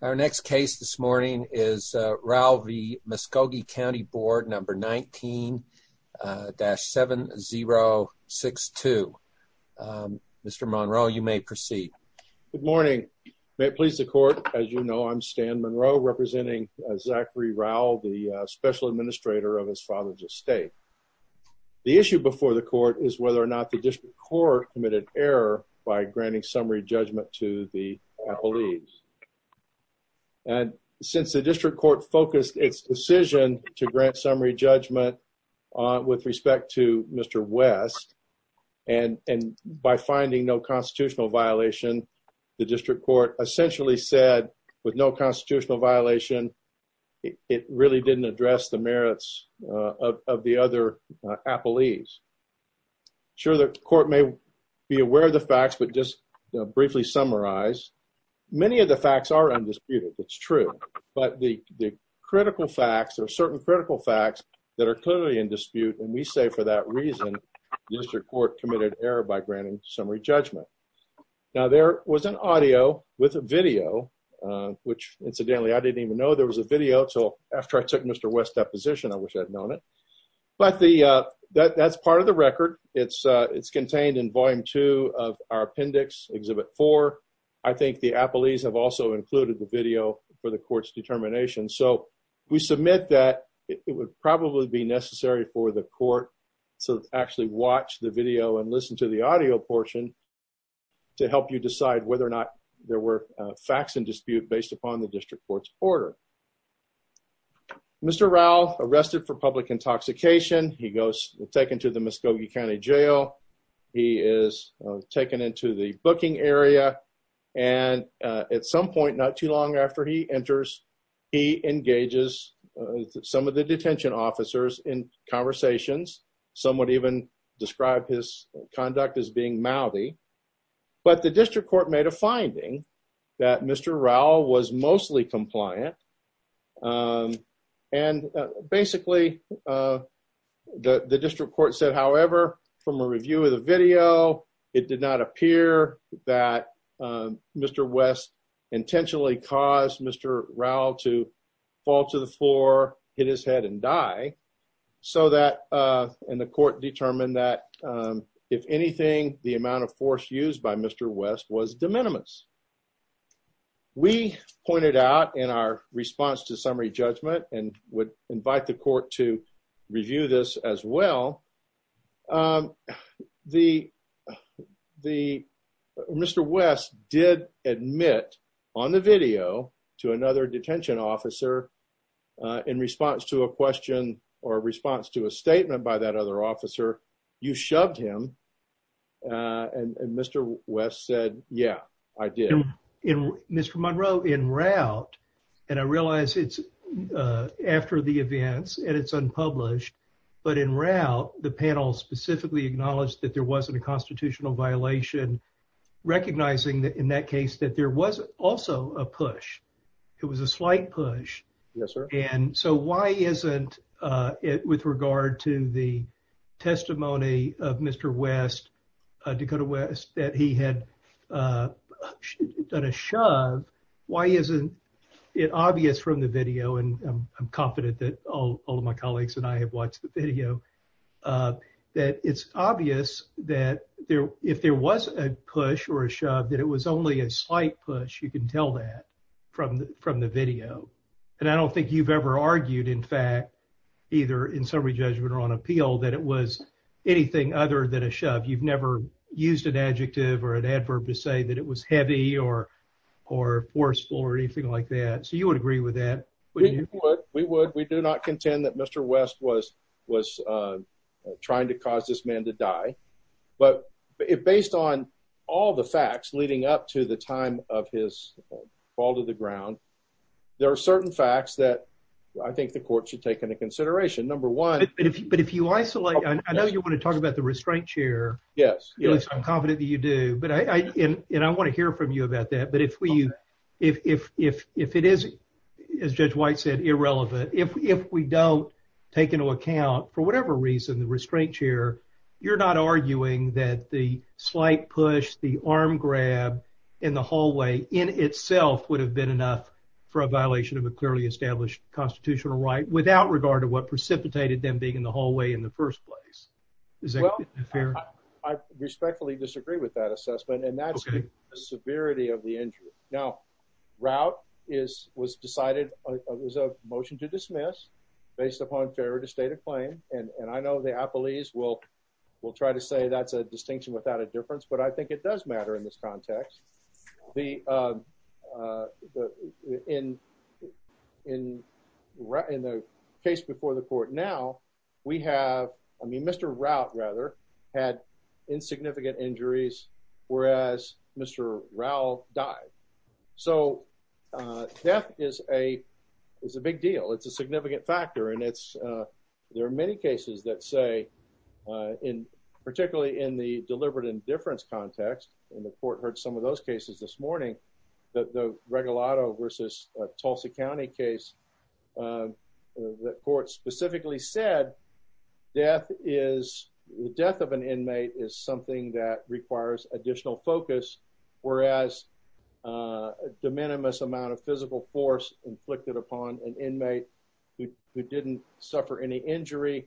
Our next case this morning is Rowell v. Muskogee County Board number 19-7062. Mr. Monroe, you may proceed. Good morning. May it please the court, as you know, I'm Stan Monroe representing Zachary Rowell, the special administrator of his father's estate. The issue before the court is whether or not the district court committed error by granting summary judgment to the appellees. And since the district court focused its decision to grant summary judgment with respect to Mr. West, and by finding no constitutional violation, the district court essentially said with no constitutional violation it really didn't address the merits of the other appellees. Sure, the court may be aware of the facts, but just briefly summarize. Many of the facts are undisputed, it's true, but the critical facts or certain critical facts that are clearly in dispute, and we say for that reason the district court committed error by granting summary judgment. Now there was an audio with a video, which incidentally I didn't even know there was a video till after I took Mr. West's deposition, I wish I'd known it, but that's part of the record. It's contained in volume 2 of our appendix, exhibit 4. I think the appellees have also included the video for the court's determination, so we submit that it would probably be necessary for the court to actually watch the video and listen to the audio portion to help you decide whether or not there were facts in dispute based on the district court's order. Mr. Rowell arrested for public intoxication, he goes taken to the Muskogee County Jail, he is taken into the booking area, and at some point not too long after he enters, he engages some of the detention officers in conversations. Some would even describe his conduct as being mouthy, but the district court made a finding that Mr. Rowell was mostly compliant, and basically the district court said, however, from a review of the video, it did not appear that Mr. West intentionally caused Mr. Rowell to fall to the floor, hit his head, and die, so that, and the court determined that if anything, the amount of force used by Mr. West was de minimis. We pointed out in our response to summary judgment, and would invite the court to review this as well, Mr. West did admit on the video to another detention officer in response to a question or response to a statement by that other officer, you shoved him, and Mr. West said, yeah, I did. Mr. Monroe, in route, and I realize it's after the events, and it's unpublished, but in route, the panel specifically acknowledged that there wasn't a constitutional violation, recognizing that in that case that there was also a push. It was a slight push. Yes, Mr. West, Dakota West, that he had done a shove. Why isn't it obvious from the video, and I'm confident that all of my colleagues and I have watched the video, that it's obvious that there, if there was a push or a shove, that it was only a slight push. You can tell that from the video, and I don't think you've ever argued, in fact, either in summary judgment or on appeal, that it was anything other than a shove. You've never used an adjective or an adverb to say that it was heavy or forceful or anything like that, so you would agree with that. We would. We do not contend that Mr. West was trying to cause this man to die, but based on all the facts leading up to the time of his fall to the ground, there are certain facts that I think the court should take into consideration. Number one. But if you isolate, I know you want to talk about the restraint chair. Yes, yes. I'm confident that you do, and I want to hear from you about that, but if we, if it is, as Judge White said, irrelevant, if we don't take into account, for whatever reason, the restraint chair, you're not arguing that the slight push, the arm grab in the hallway in itself would have been enough for a violation of a clearly established constitutional right without regard to what precipitated them being in the hallway in the first place. Is that fair? I respectfully disagree with that assessment, and that's the severity of the injury. Now, route is, was decided, was a motion to dismiss based upon failure to state a claim, and I know the appellees will try to say that's a distinction without a difference, but I in the case before the court now, we have, I mean, Mr. Rout, rather, had insignificant injuries, whereas Mr. Rowell died. So death is a, is a big deal. It's a significant factor, and it's, there are many cases that say, in particularly in the deliberate indifference context, and the court heard some of those cases this morning, that the Regalado versus Tulsa County case, that court specifically said death is, the death of an inmate is something that requires additional focus, whereas a de minimis amount of physical force inflicted upon an inmate who didn't suffer any injury,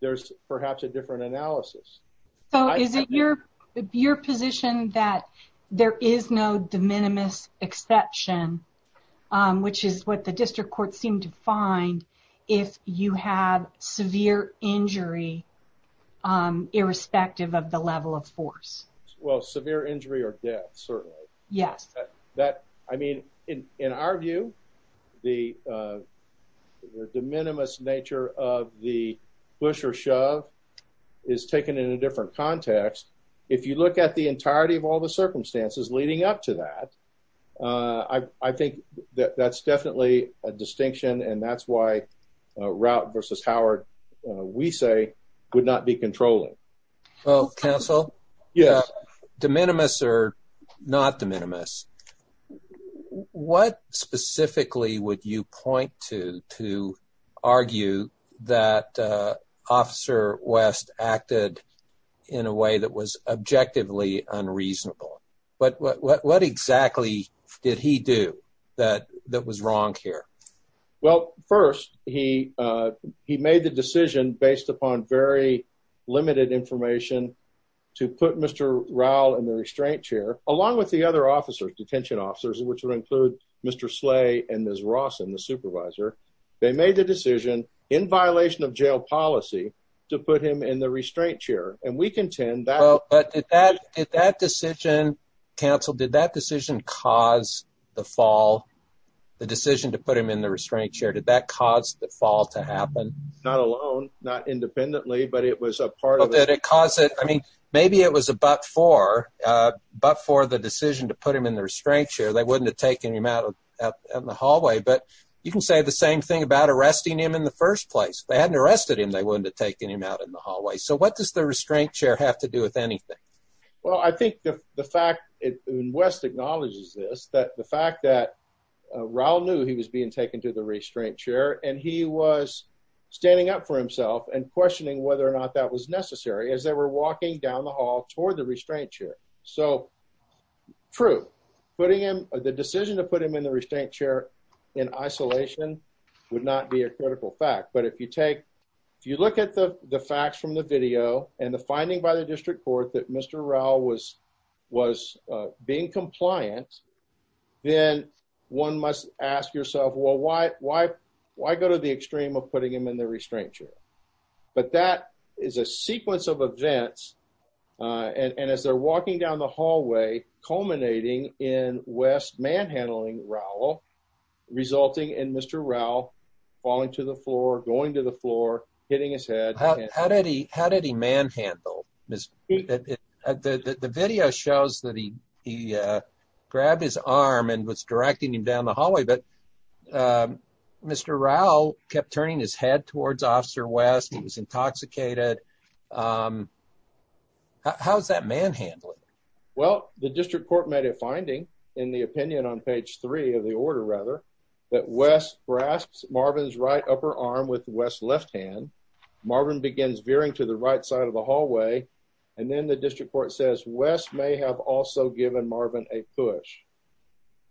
there's perhaps a different analysis. So is it your, your position that there is no de minimis exception, which is what the district court seemed to find if you have severe injury irrespective of the level of force? Well, severe injury or death, certainly. Yes. That, I mean, in our view, the de minimis nature of the push or shove is taken in a different context. If you look at the entirety of all the cases, I think that that's definitely a distinction, and that's why Routt versus Howard, we say, would not be controlling. Well, counsel, de minimis or not de minimis, what specifically would you point to to argue that Officer West acted in a way that was objectively unreasonable? But what exactly did he do that was wrong here? Well, first, he made the decision based upon very limited information to put Mr. Rowell in the restraint chair, along with the other officers, detention officers, which would include Mr. Slay and Ms. Rawson, the supervisor. They made the decision in violation of jail policy to put him in the restraint chair, and we contend that... But did that decision, counsel, did that decision cause the fall, the decision to put him in the restraint chair? Did that cause the fall to happen? Not alone, not independently, but it was a part of it. Well, did it cause it? I mean, maybe it was a but for the decision to put him in the restraint chair. They wouldn't have taken him out in the hallway, but you can say the same thing about arresting him in the first place. If they hadn't arrested him, they wouldn't have taken him out in the first place. So what does the restraint chair have to do with anything? Well, I think the fact, and Wes acknowledges this, that the fact that Rowell knew he was being taken to the restraint chair, and he was standing up for himself and questioning whether or not that was necessary as they were walking down the hall toward the restraint chair. So, true, putting him, the decision to put him in the restraint chair in isolation would not be a critical fact, but if you take, if you look at the facts from the video and the finding by the district court that Mr. Rowell was being compliant, then one must ask yourself, well, why go to the extreme of putting him in the restraint chair? But that is a sequence of events, and as they're walking down the hallway, culminating in Wes manhandling Rowell, resulting in Mr. Rowell falling to the floor, going to the floor, hitting his head. How did he manhandle? The video shows that he grabbed his arm and was directing him down the hallway, but Mr. Rowell kept turning his head towards Officer Wes. He was intoxicated. How's that manhandling? Well, the district court made a finding in the opinion on page three of the order, rather, that Wes grasps Marvin's right upper arm with Wes's left hand. Marvin begins veering to the right side of the hallway, and then the district court says Wes may have also given Marvin a push,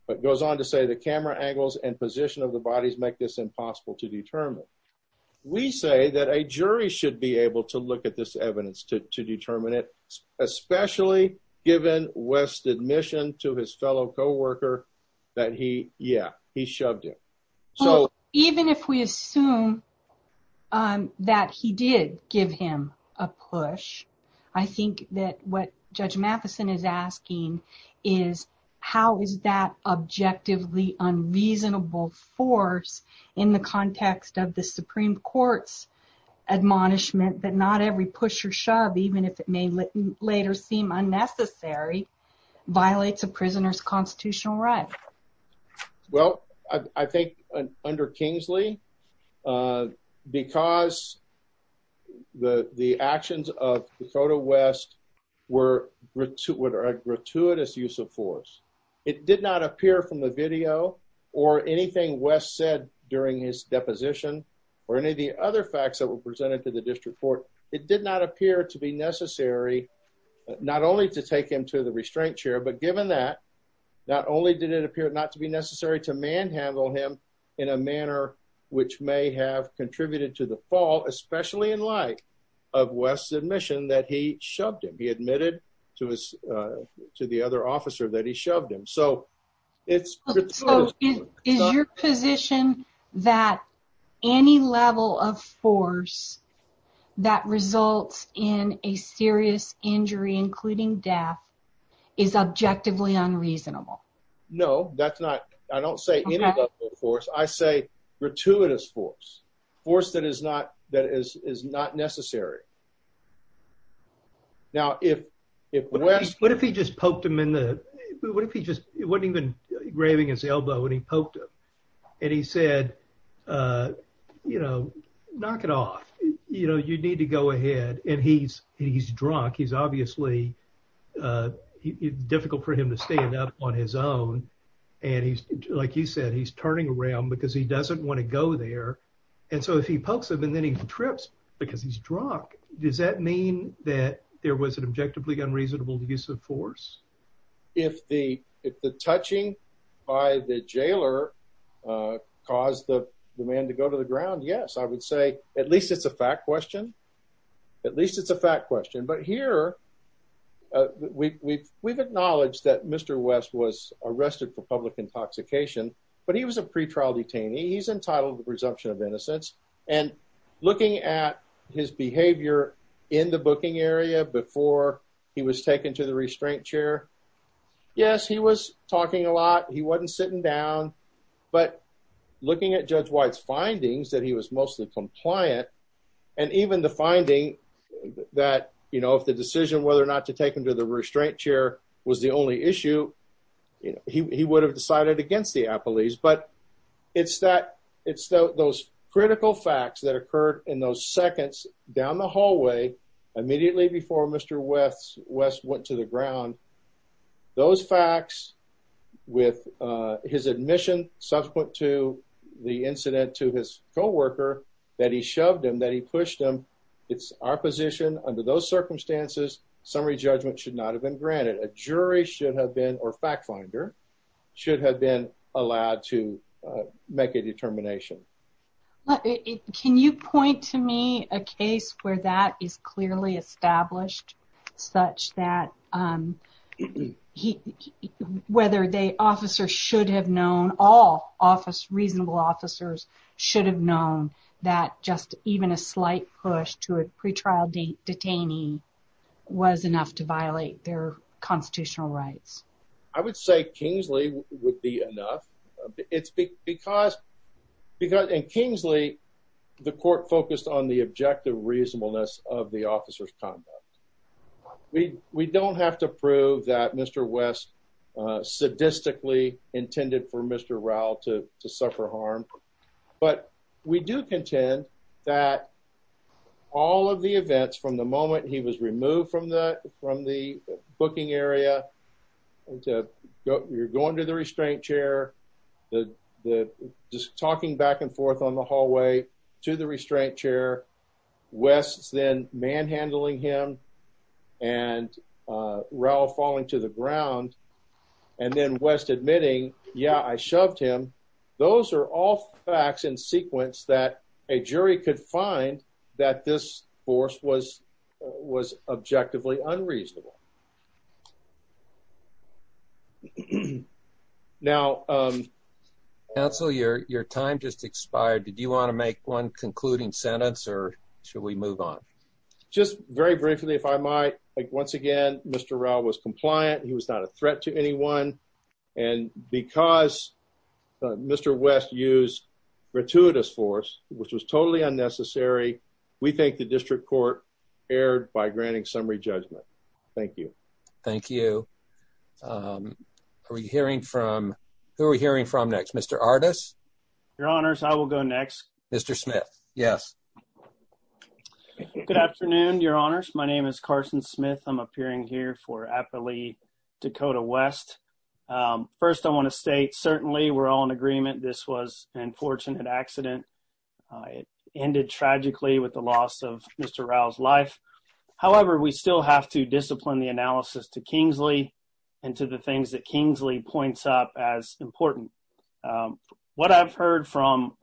but goes on to say the camera angles and position of the bodies make this impossible to determine. We say that a jury should be able to look at this evidence to determine it, especially given Wes's admission to his fellow co-worker that, yeah, he shoved him. Even if we assume that he did give him a push, I think that what Judge Matheson is asking is, how is that objectively unreasonable force in the context of the Supreme Court's admonishment that not every push or shove, even if it may later seem unnecessary, violates a prisoner's constitutional right? Well, I think under Kingsley, because the actions of Dakota Wes were a gratuitous use of force, it did not appear from the video or anything Wes said during his deposition or any of the other facts that were presented to the district court, it did not appear to be necessary, not only to take him to the restraint chair, but given that, not only did it appear not to be necessary to manhandle him in a manner which may have contributed to the fall, especially in light of Wes's admission that he shoved him, he admitted to the other officer that he shoved him. So it's... Is your position that any level of force that results in a serious injury, including death, is objectively unreasonable? No, that's not. I don't say any level of force. I say gratuitous force, force that is not necessary. Now, if Wes... What if he just poked him in the... It wasn't even graving his elbow and he poked him and he said, you know, knock it off. You know, you need to go ahead. And he's drunk. He's obviously difficult for him to stand up on his own. And he's, like you said, he's turning around because he doesn't want to go there. And so if he pokes him and then he trips because he's drunk, does that mean that there was an objectively unreasonable use of force? If the touching by the jailer caused the man to go to the ground, yes. I would say at least it's a fact question. At least it's a fact question. But here we've acknowledged that he's entitled to presumption of innocence. And looking at his behavior in the booking area before he was taken to the restraint chair, yes, he was talking a lot. He wasn't sitting down. But looking at Judge White's findings that he was mostly compliant, and even the finding that, you know, if the decision whether or not to take him to the restraint chair was the only issue, you know, he would have decided against the appellees. But it's that it's those critical facts that occurred in those seconds down the hallway, immediately before Mr. West went to the ground, those facts with his admission subsequent to the incident to his co-worker, that he shoved him, that he pushed him. It's our position under those circumstances, summary judgment should not have been granted. A jury should have been, or fact finder, should have been allowed to make a determination. Can you point to me a case where that is clearly established, such that whether the officer should have known, all reasonable officers should have known that just even a slight push to a pretrial detainee was enough to violate their constitutional rights? I would say Kingsley would be enough. It's because in Kingsley, the court focused on the objective reasonableness of the officer's conduct. We don't have to prove that Mr. West sadistically intended for Mr. Rowell to suffer harm. But we do contend that all of the events from the moment he was removed from the booking area, you're going to the restraint chair, just talking back and forth on the hallway to the restraint chair, West's then manhandling him, and Rowell falling to the ground, and then West admitting, yeah, I shoved him. Those are all facts in sequence that a jury could find that this force was objectively unreasonable. Now, counsel, your time just expired. Did you want to make one concluding sentence, or should we move on? Just very briefly, if I might. Once again, Mr. Rowell was compliant. He was not a threat to anyone. And because Mr. West used gratuitous force, which was totally unnecessary, we think the district court erred by granting summary judgment. Thank you. Thank you. Are we hearing from, who are we hearing from next? Mr. Ardis? Your honors, I will go next. Mr. Smith. Yes. Good afternoon, your honors. My name is Carson Smith. I'm appearing here for Dakota West. First, I want to state certainly we're all in agreement this was an unfortunate accident. It ended tragically with the loss of Mr. Rowell's life. However, we still have to discipline the analysis to Kingsley and to the things that Kingsley points up as important. What I've heard from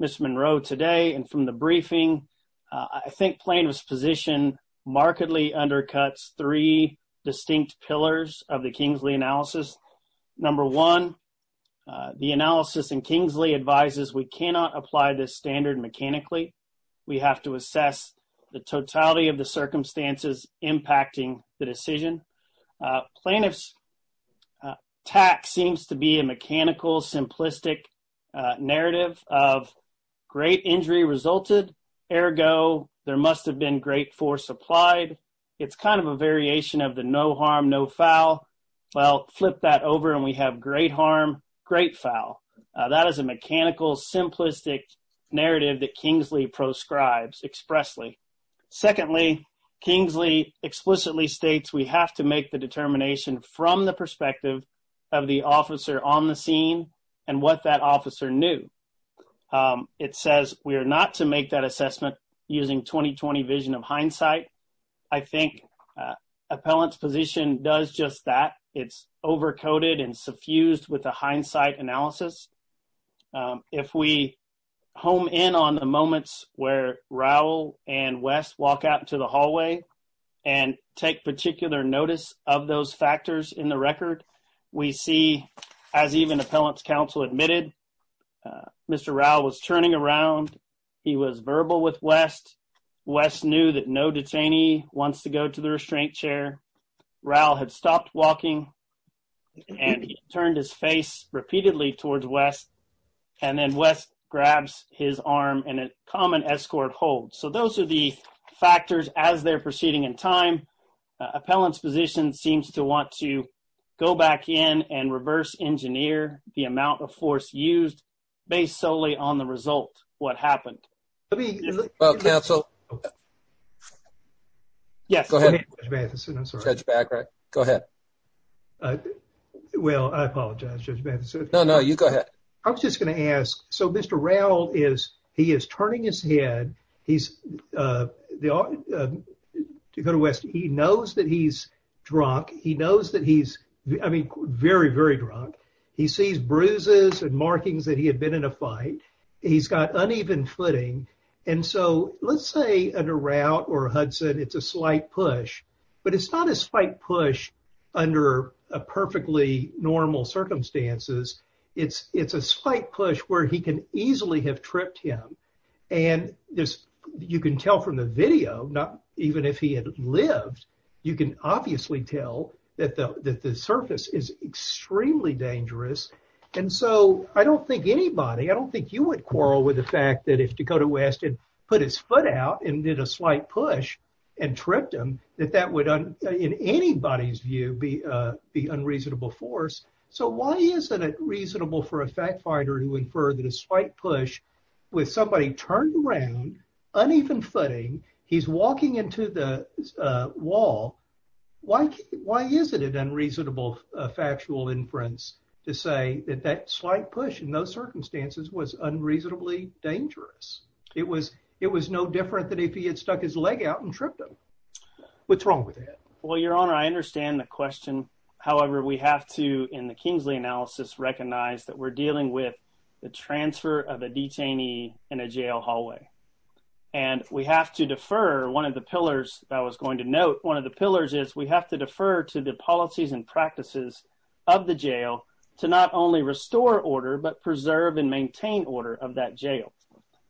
Mr. Monroe today and from the briefing, I think plaintiff's position markedly undercuts three distinct pillars of the Kingsley analysis. Number one, the analysis in Kingsley advises we cannot apply this standard mechanically. We have to assess the totality of the circumstances impacting the decision. Plaintiff's tact seems to be a mechanical, simplistic narrative of great injury resulted. Ergo, there must have been great force applied. It's kind of a variation of the no harm, no foul. Well, flip that over and we have great harm, great foul. That is a mechanical, simplistic narrative that Kingsley proscribes expressly. Secondly, Kingsley explicitly states we have to make the determination from the perspective of the officer on the scene and what that officer knew. It says we are not to make that assessment using 20-20 vision of hindsight. I think appellant's position does just that. It's over-coded and suffused with a hindsight analysis. If we home in on the moments where Rowell and West walk out into the hallway and take particular notice of those factors in the record, we see as even appellant's counsel admitted, Mr. Rowell was turning around. He was verbal with West. West knew that no detainee wants to go to the restraint chair. Rowell had stopped walking and he turned his face repeatedly towards West and then West grabs his arm in a common escort hold. So those are the factors as they're proceeding in time. Appellant's position seems to want to go back in and reverse-engineer the amount of force used based solely on the result, what happened. Well, counsel? Yes. Go ahead. Judge Matheson, I'm sorry. Judge Bagrat, go ahead. Well, I apologize, Judge Matheson. No, no, you go ahead. I was just going to ask, so Mr. Rowell is, he is turning his head. He's, to go to West, he knows that he's drunk. He knows that he's, I mean, very, very drunk. He sees bruises and markings that he had been in a fight. He's got uneven footing. And so let's say under Rowell or Hudson, it's a slight push, but it's not a slight push under a perfectly normal circumstances. It's, it's a slight push where he can easily have tripped him. And there's, you can tell from the video, not even if he had lived, you can obviously tell that the, that the surface is extremely dangerous. And so I don't think anybody, I don't think you would quarrel with the fact that if Dakota West had put his foot out and did a slight push and tripped him, that that would, in anybody's view, be the unreasonable force. So why isn't it reasonable for a fact finder to infer that a slight push with somebody turned around, uneven footing, he's walking into the wall. Why, why is it an unreasonable factual inference to say that that slight push in those circumstances was unreasonably dangerous? It was, it was no different than if he had stuck his leg out and tripped him. What's wrong with that? Well, Your Honor, I understand the question. However, we have to, in the Kingsley analysis, recognize that we're dealing with the transfer of a detainee in a jail hallway. And we have to defer one of the pillars that I was going to note. One of the pillars is we have to defer to the policies and practices of the jail to not only restore order, but preserve and maintain order of that jail.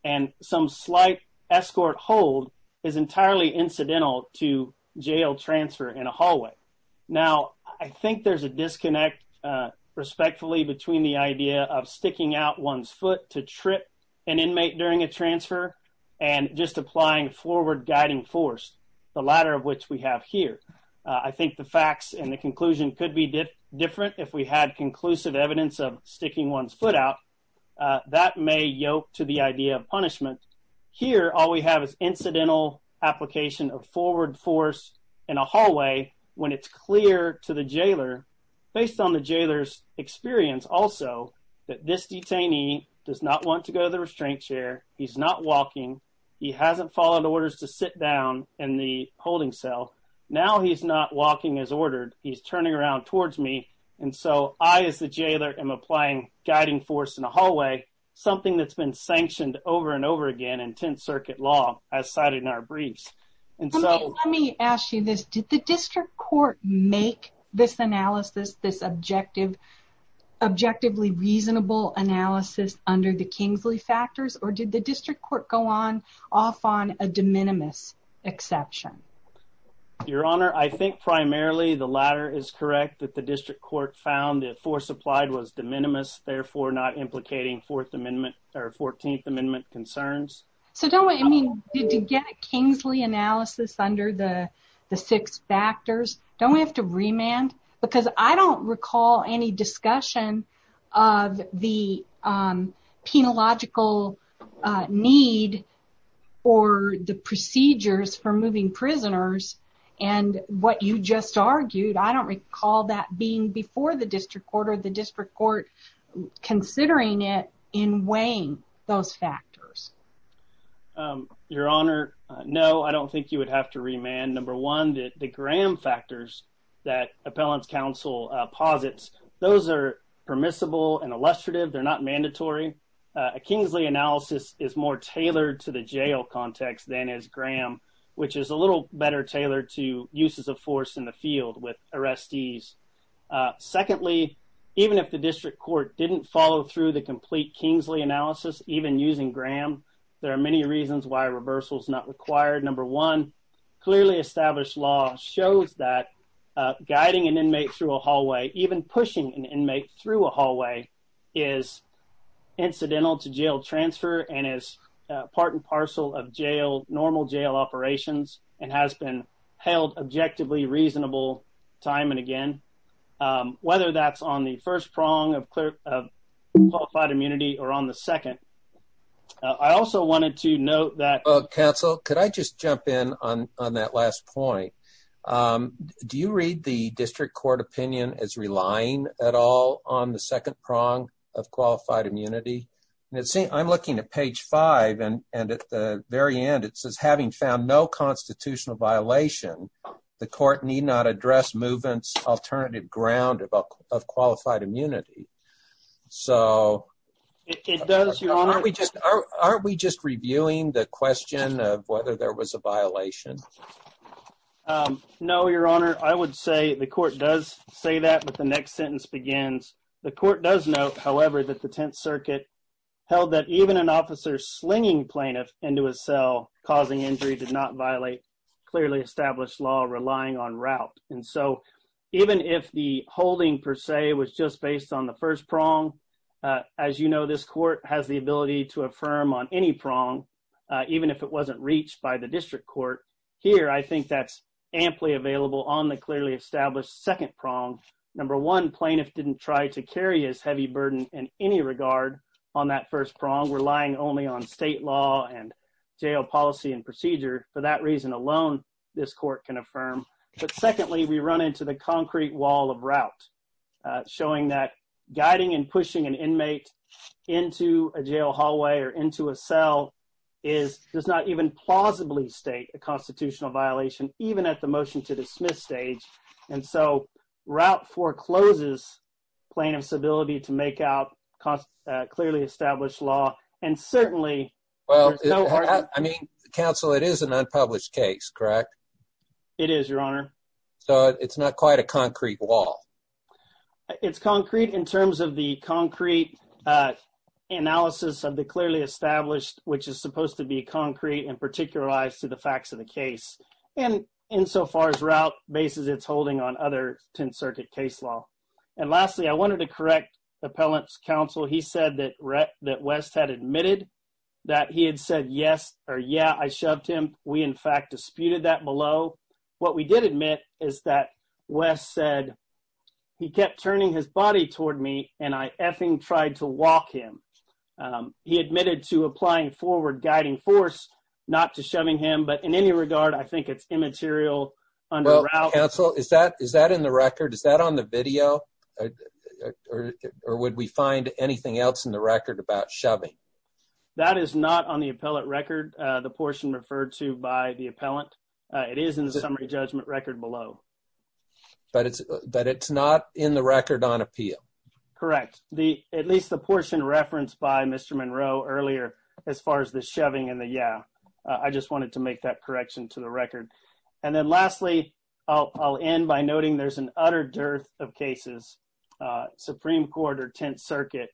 And some slight escort hold is entirely incidental to jail transfer in a hallway. Now, I think there's a disconnect, respectfully, between the idea of sticking out one's foot to trip an inmate during a transfer and just applying forward guiding force, the latter of which we have here. I think the facts and the conclusion could be different if we had conclusive evidence of sticking one's foot out. That may yoke to the idea of punishment. Here, all we have is incidental application of forward force in a hallway when it's clear to the jailer, based on the jailer's experience also, that this detainee does not want to go to the restraint chair. He's not walking. He hasn't followed orders to sit down in the holding cell. Now, he's not walking as ordered. He's turning around towards me. And so, I, as the jailer, am applying guiding force in a hallway, something that's been sanctioned over and over again in Tenth Circuit law, as cited in our briefs. And so, let me ask you this. Did the district court make this analysis, this objective, objectively reasonable analysis under the Kingsley factors? Or did the district court go on off on a de minimis exception? Your Honor, I think primarily the latter is correct, that the district court found that force applied was de minimis, therefore not implicating Fourth Amendment or Fourteenth Amendment concerns. So, don't we, I mean, did you get a Kingsley analysis under the six factors? Don't we have to remand? Because I don't recall any discussion of the penological need or the procedures for moving prisoners. And what you just argued, I don't recall that being before the district court or the district court considering it in weighing those factors. Your Honor, no, I don't think you would have to remand. Number one, the Graham factors that Appellant's counsel posits, those are permissible and illustrative. They're not mandatory. A Kingsley analysis is more tailored to the jail context than is Graham, which is a little better tailored to uses of force in the field with arrestees. Secondly, even if the district court didn't follow through the complete Kingsley analysis, even using Graham, there are many reasons why reversal is not required. Number one, clearly established law shows that guiding an inmate through a hallway, even pushing an inmate through a hallway, is incidental to jail transfer and is part and parcel of jail, normal jail operations, and has been held objectively reasonable time and again. Whether that's on the first prong of qualified immunity or on the second, I also wanted to note that- Counsel, could I just jump in on that last point? Do you read the district court opinion as relying at all on the second prong of qualified immunity? I'm looking at page five and at the very end it says, having found no constitutional violation, the court need not address movements alternative ground of qualified immunity. So- It does, your honor. Aren't we just reviewing the question of whether there was a violation? No, your honor. I would say the court does say that, but the next sentence begins, the court does note, however, that the 10th circuit held that even an officer slinging plaintiff into a cell causing injury did not violate clearly established law relying on route. And so, even if the holding per se was just based on the first prong, as you know, this court has the ability to affirm on any prong, even if it wasn't reached by the district court. Here, I think that's amply available on the clearly established second prong. Number one, plaintiff didn't try to carry his heavy burden in any regard on that first prong, relying only on state law and jail policy procedure. For that reason alone, this court can affirm. But secondly, we run into the concrete wall of route, showing that guiding and pushing an inmate into a jail hallway or into a cell does not even plausibly state a constitutional violation, even at the motion to dismiss stage. And so, route forecloses plaintiff's ability to make out clearly established law and certainly- I mean, counsel, it is an unpublished case, correct? It is, your honor. So, it's not quite a concrete wall. It's concrete in terms of the concrete analysis of the clearly established, which is supposed to be concrete and particularized to the facts of the case. And insofar as route bases its holding on other 10th circuit case law. And lastly, I wanted to correct appellant's counsel. He said that West had admitted that he had said yes or yeah, I shoved him. We, in fact, disputed that below. What we did admit is that West said he kept turning his body toward me and I effing tried to walk him. He admitted to applying forward guiding force, not to shoving him. But in any regard, I think it's immaterial under route. Is that in the record? Is that on the video? Or would we find anything else in the record about shoving? That is not on the appellate record. The portion referred to by the appellant, it is in the summary judgment record below. But it's not in the record on appeal? Correct. At least the portion referenced by Mr. Monroe earlier, as far as the shoving and the And then lastly, I'll end by noting there's an utter dearth of cases, Supreme Court or 10th Circuit,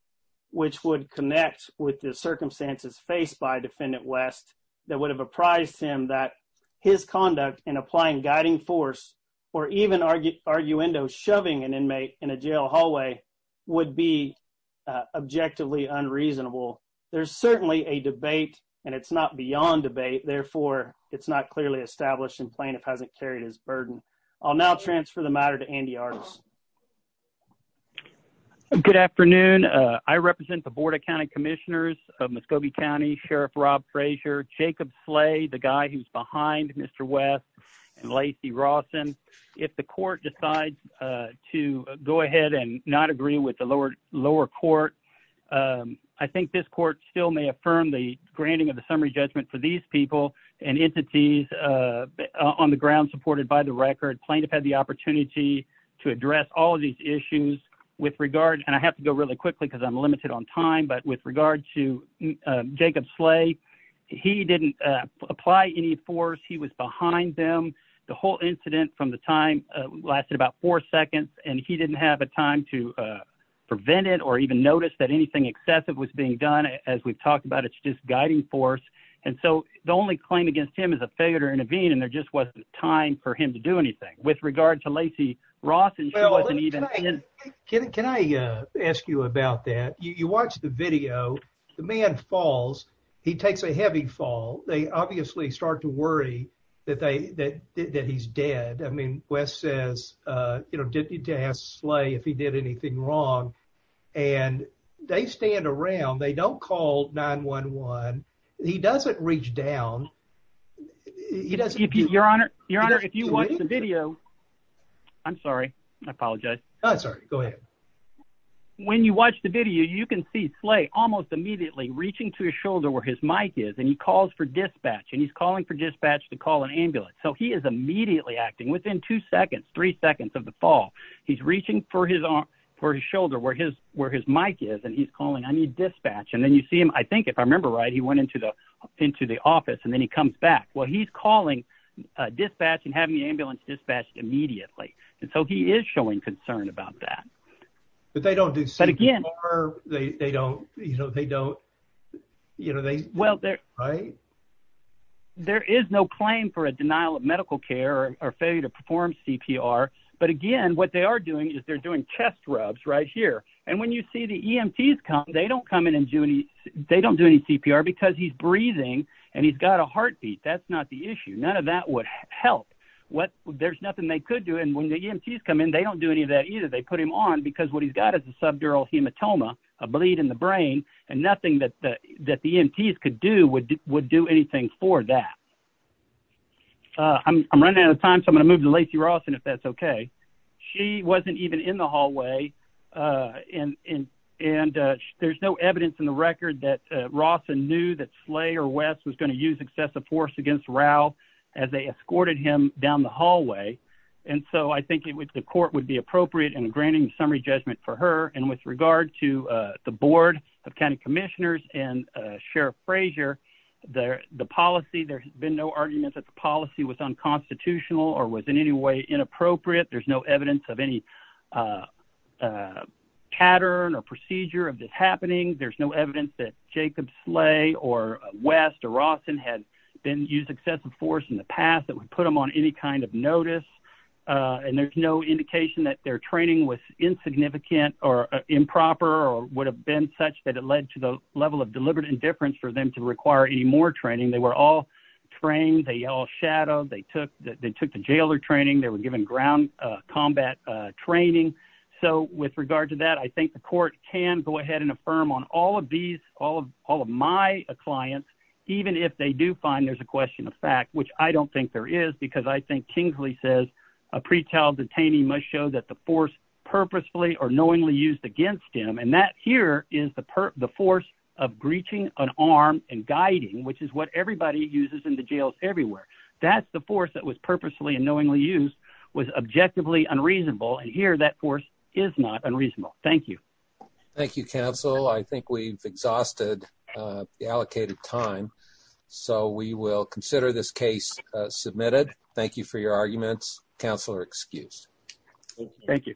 which would connect with the circumstances faced by defendant West that would have apprised him that his conduct in applying guiding force or even arguendo shoving an inmate in a jail hallway would be objectively unreasonable. There's certainly a debate and it's not beyond debate. Therefore, it's not clearly established and plaintiff hasn't carried his burden. I'll now transfer the matter to Andy Artis. Good afternoon. I represent the Board of County Commissioners of Muscogee County, Sheriff Rob Frazier, Jacob Slay, the guy who's behind Mr. West and Lacey Rawson. If the court decides to go ahead and not agree with the lower court, I think this court still affirm the granting of the summary judgment for these people and entities on the ground supported by the record. Plaintiff had the opportunity to address all of these issues with regard, and I have to go really quickly because I'm limited on time, but with regard to Jacob Slay, he didn't apply any force. He was behind them. The whole incident from the time lasted about four seconds and he didn't have a time to prevent it or even notice that anything excessive was being done. As we've talked about, it's just guiding force. And so the only claim against him is a failure to intervene and there just wasn't time for him to do anything. With regard to Lacey Rawson, she wasn't even- Can I ask you about that? You watch the video, the man falls, he takes a heavy fall. They obviously start to worry that he's dead. I mean, Wes says, didn't need to ask Slay if he did anything wrong. And they stand around, they don't call 911. He doesn't reach down. He doesn't- Your Honor, if you watch the video- I'm sorry. I apologize. No, I'm sorry. Go ahead. When you watch the video, you can see Slay almost immediately reaching to his shoulder where his mic is and he calls for dispatch and he's calling for dispatch to call an ambulance. So he is immediately acting. Within two seconds, three seconds of the fall, he's reaching for his shoulder where his mic is and he's calling, I need dispatch. And then you see him, I think if I remember right, he went into the office and then he comes back. Well, he's calling dispatch and having the ambulance dispatched immediately. And so he is showing concern about that. But they don't do CPR. They don't, you know, they don't, you know, they- Well, there is no claim for a denial of medical care or failure to perform CPR. But again, what they are doing is they're doing chest rubs right here. And when you see the EMTs come, they don't come in and do any, they don't do any CPR because he's breathing and he's got a heartbeat. That's not the issue. None of that would help. There's nothing they could do. And when the EMTs come in, they don't do any of that either. They put him on what he's got is a subdural hematoma, a bleed in the brain and nothing that the EMTs could do would do anything for that. I'm running out of time, so I'm going to move to Lacey Rawson if that's okay. She wasn't even in the hallway. And there's no evidence in the record that Rawson knew that Slay or West was going to use excessive force against Ralph as they escorted him down the for her. And with regard to the board of county commissioners and Sheriff Frazier, the policy, there has been no argument that the policy was unconstitutional or was in any way inappropriate. There's no evidence of any pattern or procedure of this happening. There's no evidence that Jacob Slay or West or Rawson had been used excessive force in the past that would them on any kind of notice. And there's no indication that their training was insignificant or improper or would have been such that it led to the level of deliberate indifference for them to require any more training. They were all trained. They all shadowed. They took the jailer training. They were given ground combat training. So with regard to that, I think the court can go ahead and affirm on all of these, all of my clients, even if they do find there's a question of fact, which I don't think there is, because I think Kingsley says a pretrial detainee must show that the force purposefully or knowingly used against him. And that here is the force of breaching an arm and guiding, which is what everybody uses in the jails everywhere. That's the force that was purposefully and knowingly used was objectively unreasonable. And here, that force is not unreasonable. Thank you. Thank you, counsel. I think we've exhausted the allocated time, so we will consider this case submitted. Thank you for your arguments. Counselor excused. Thank you.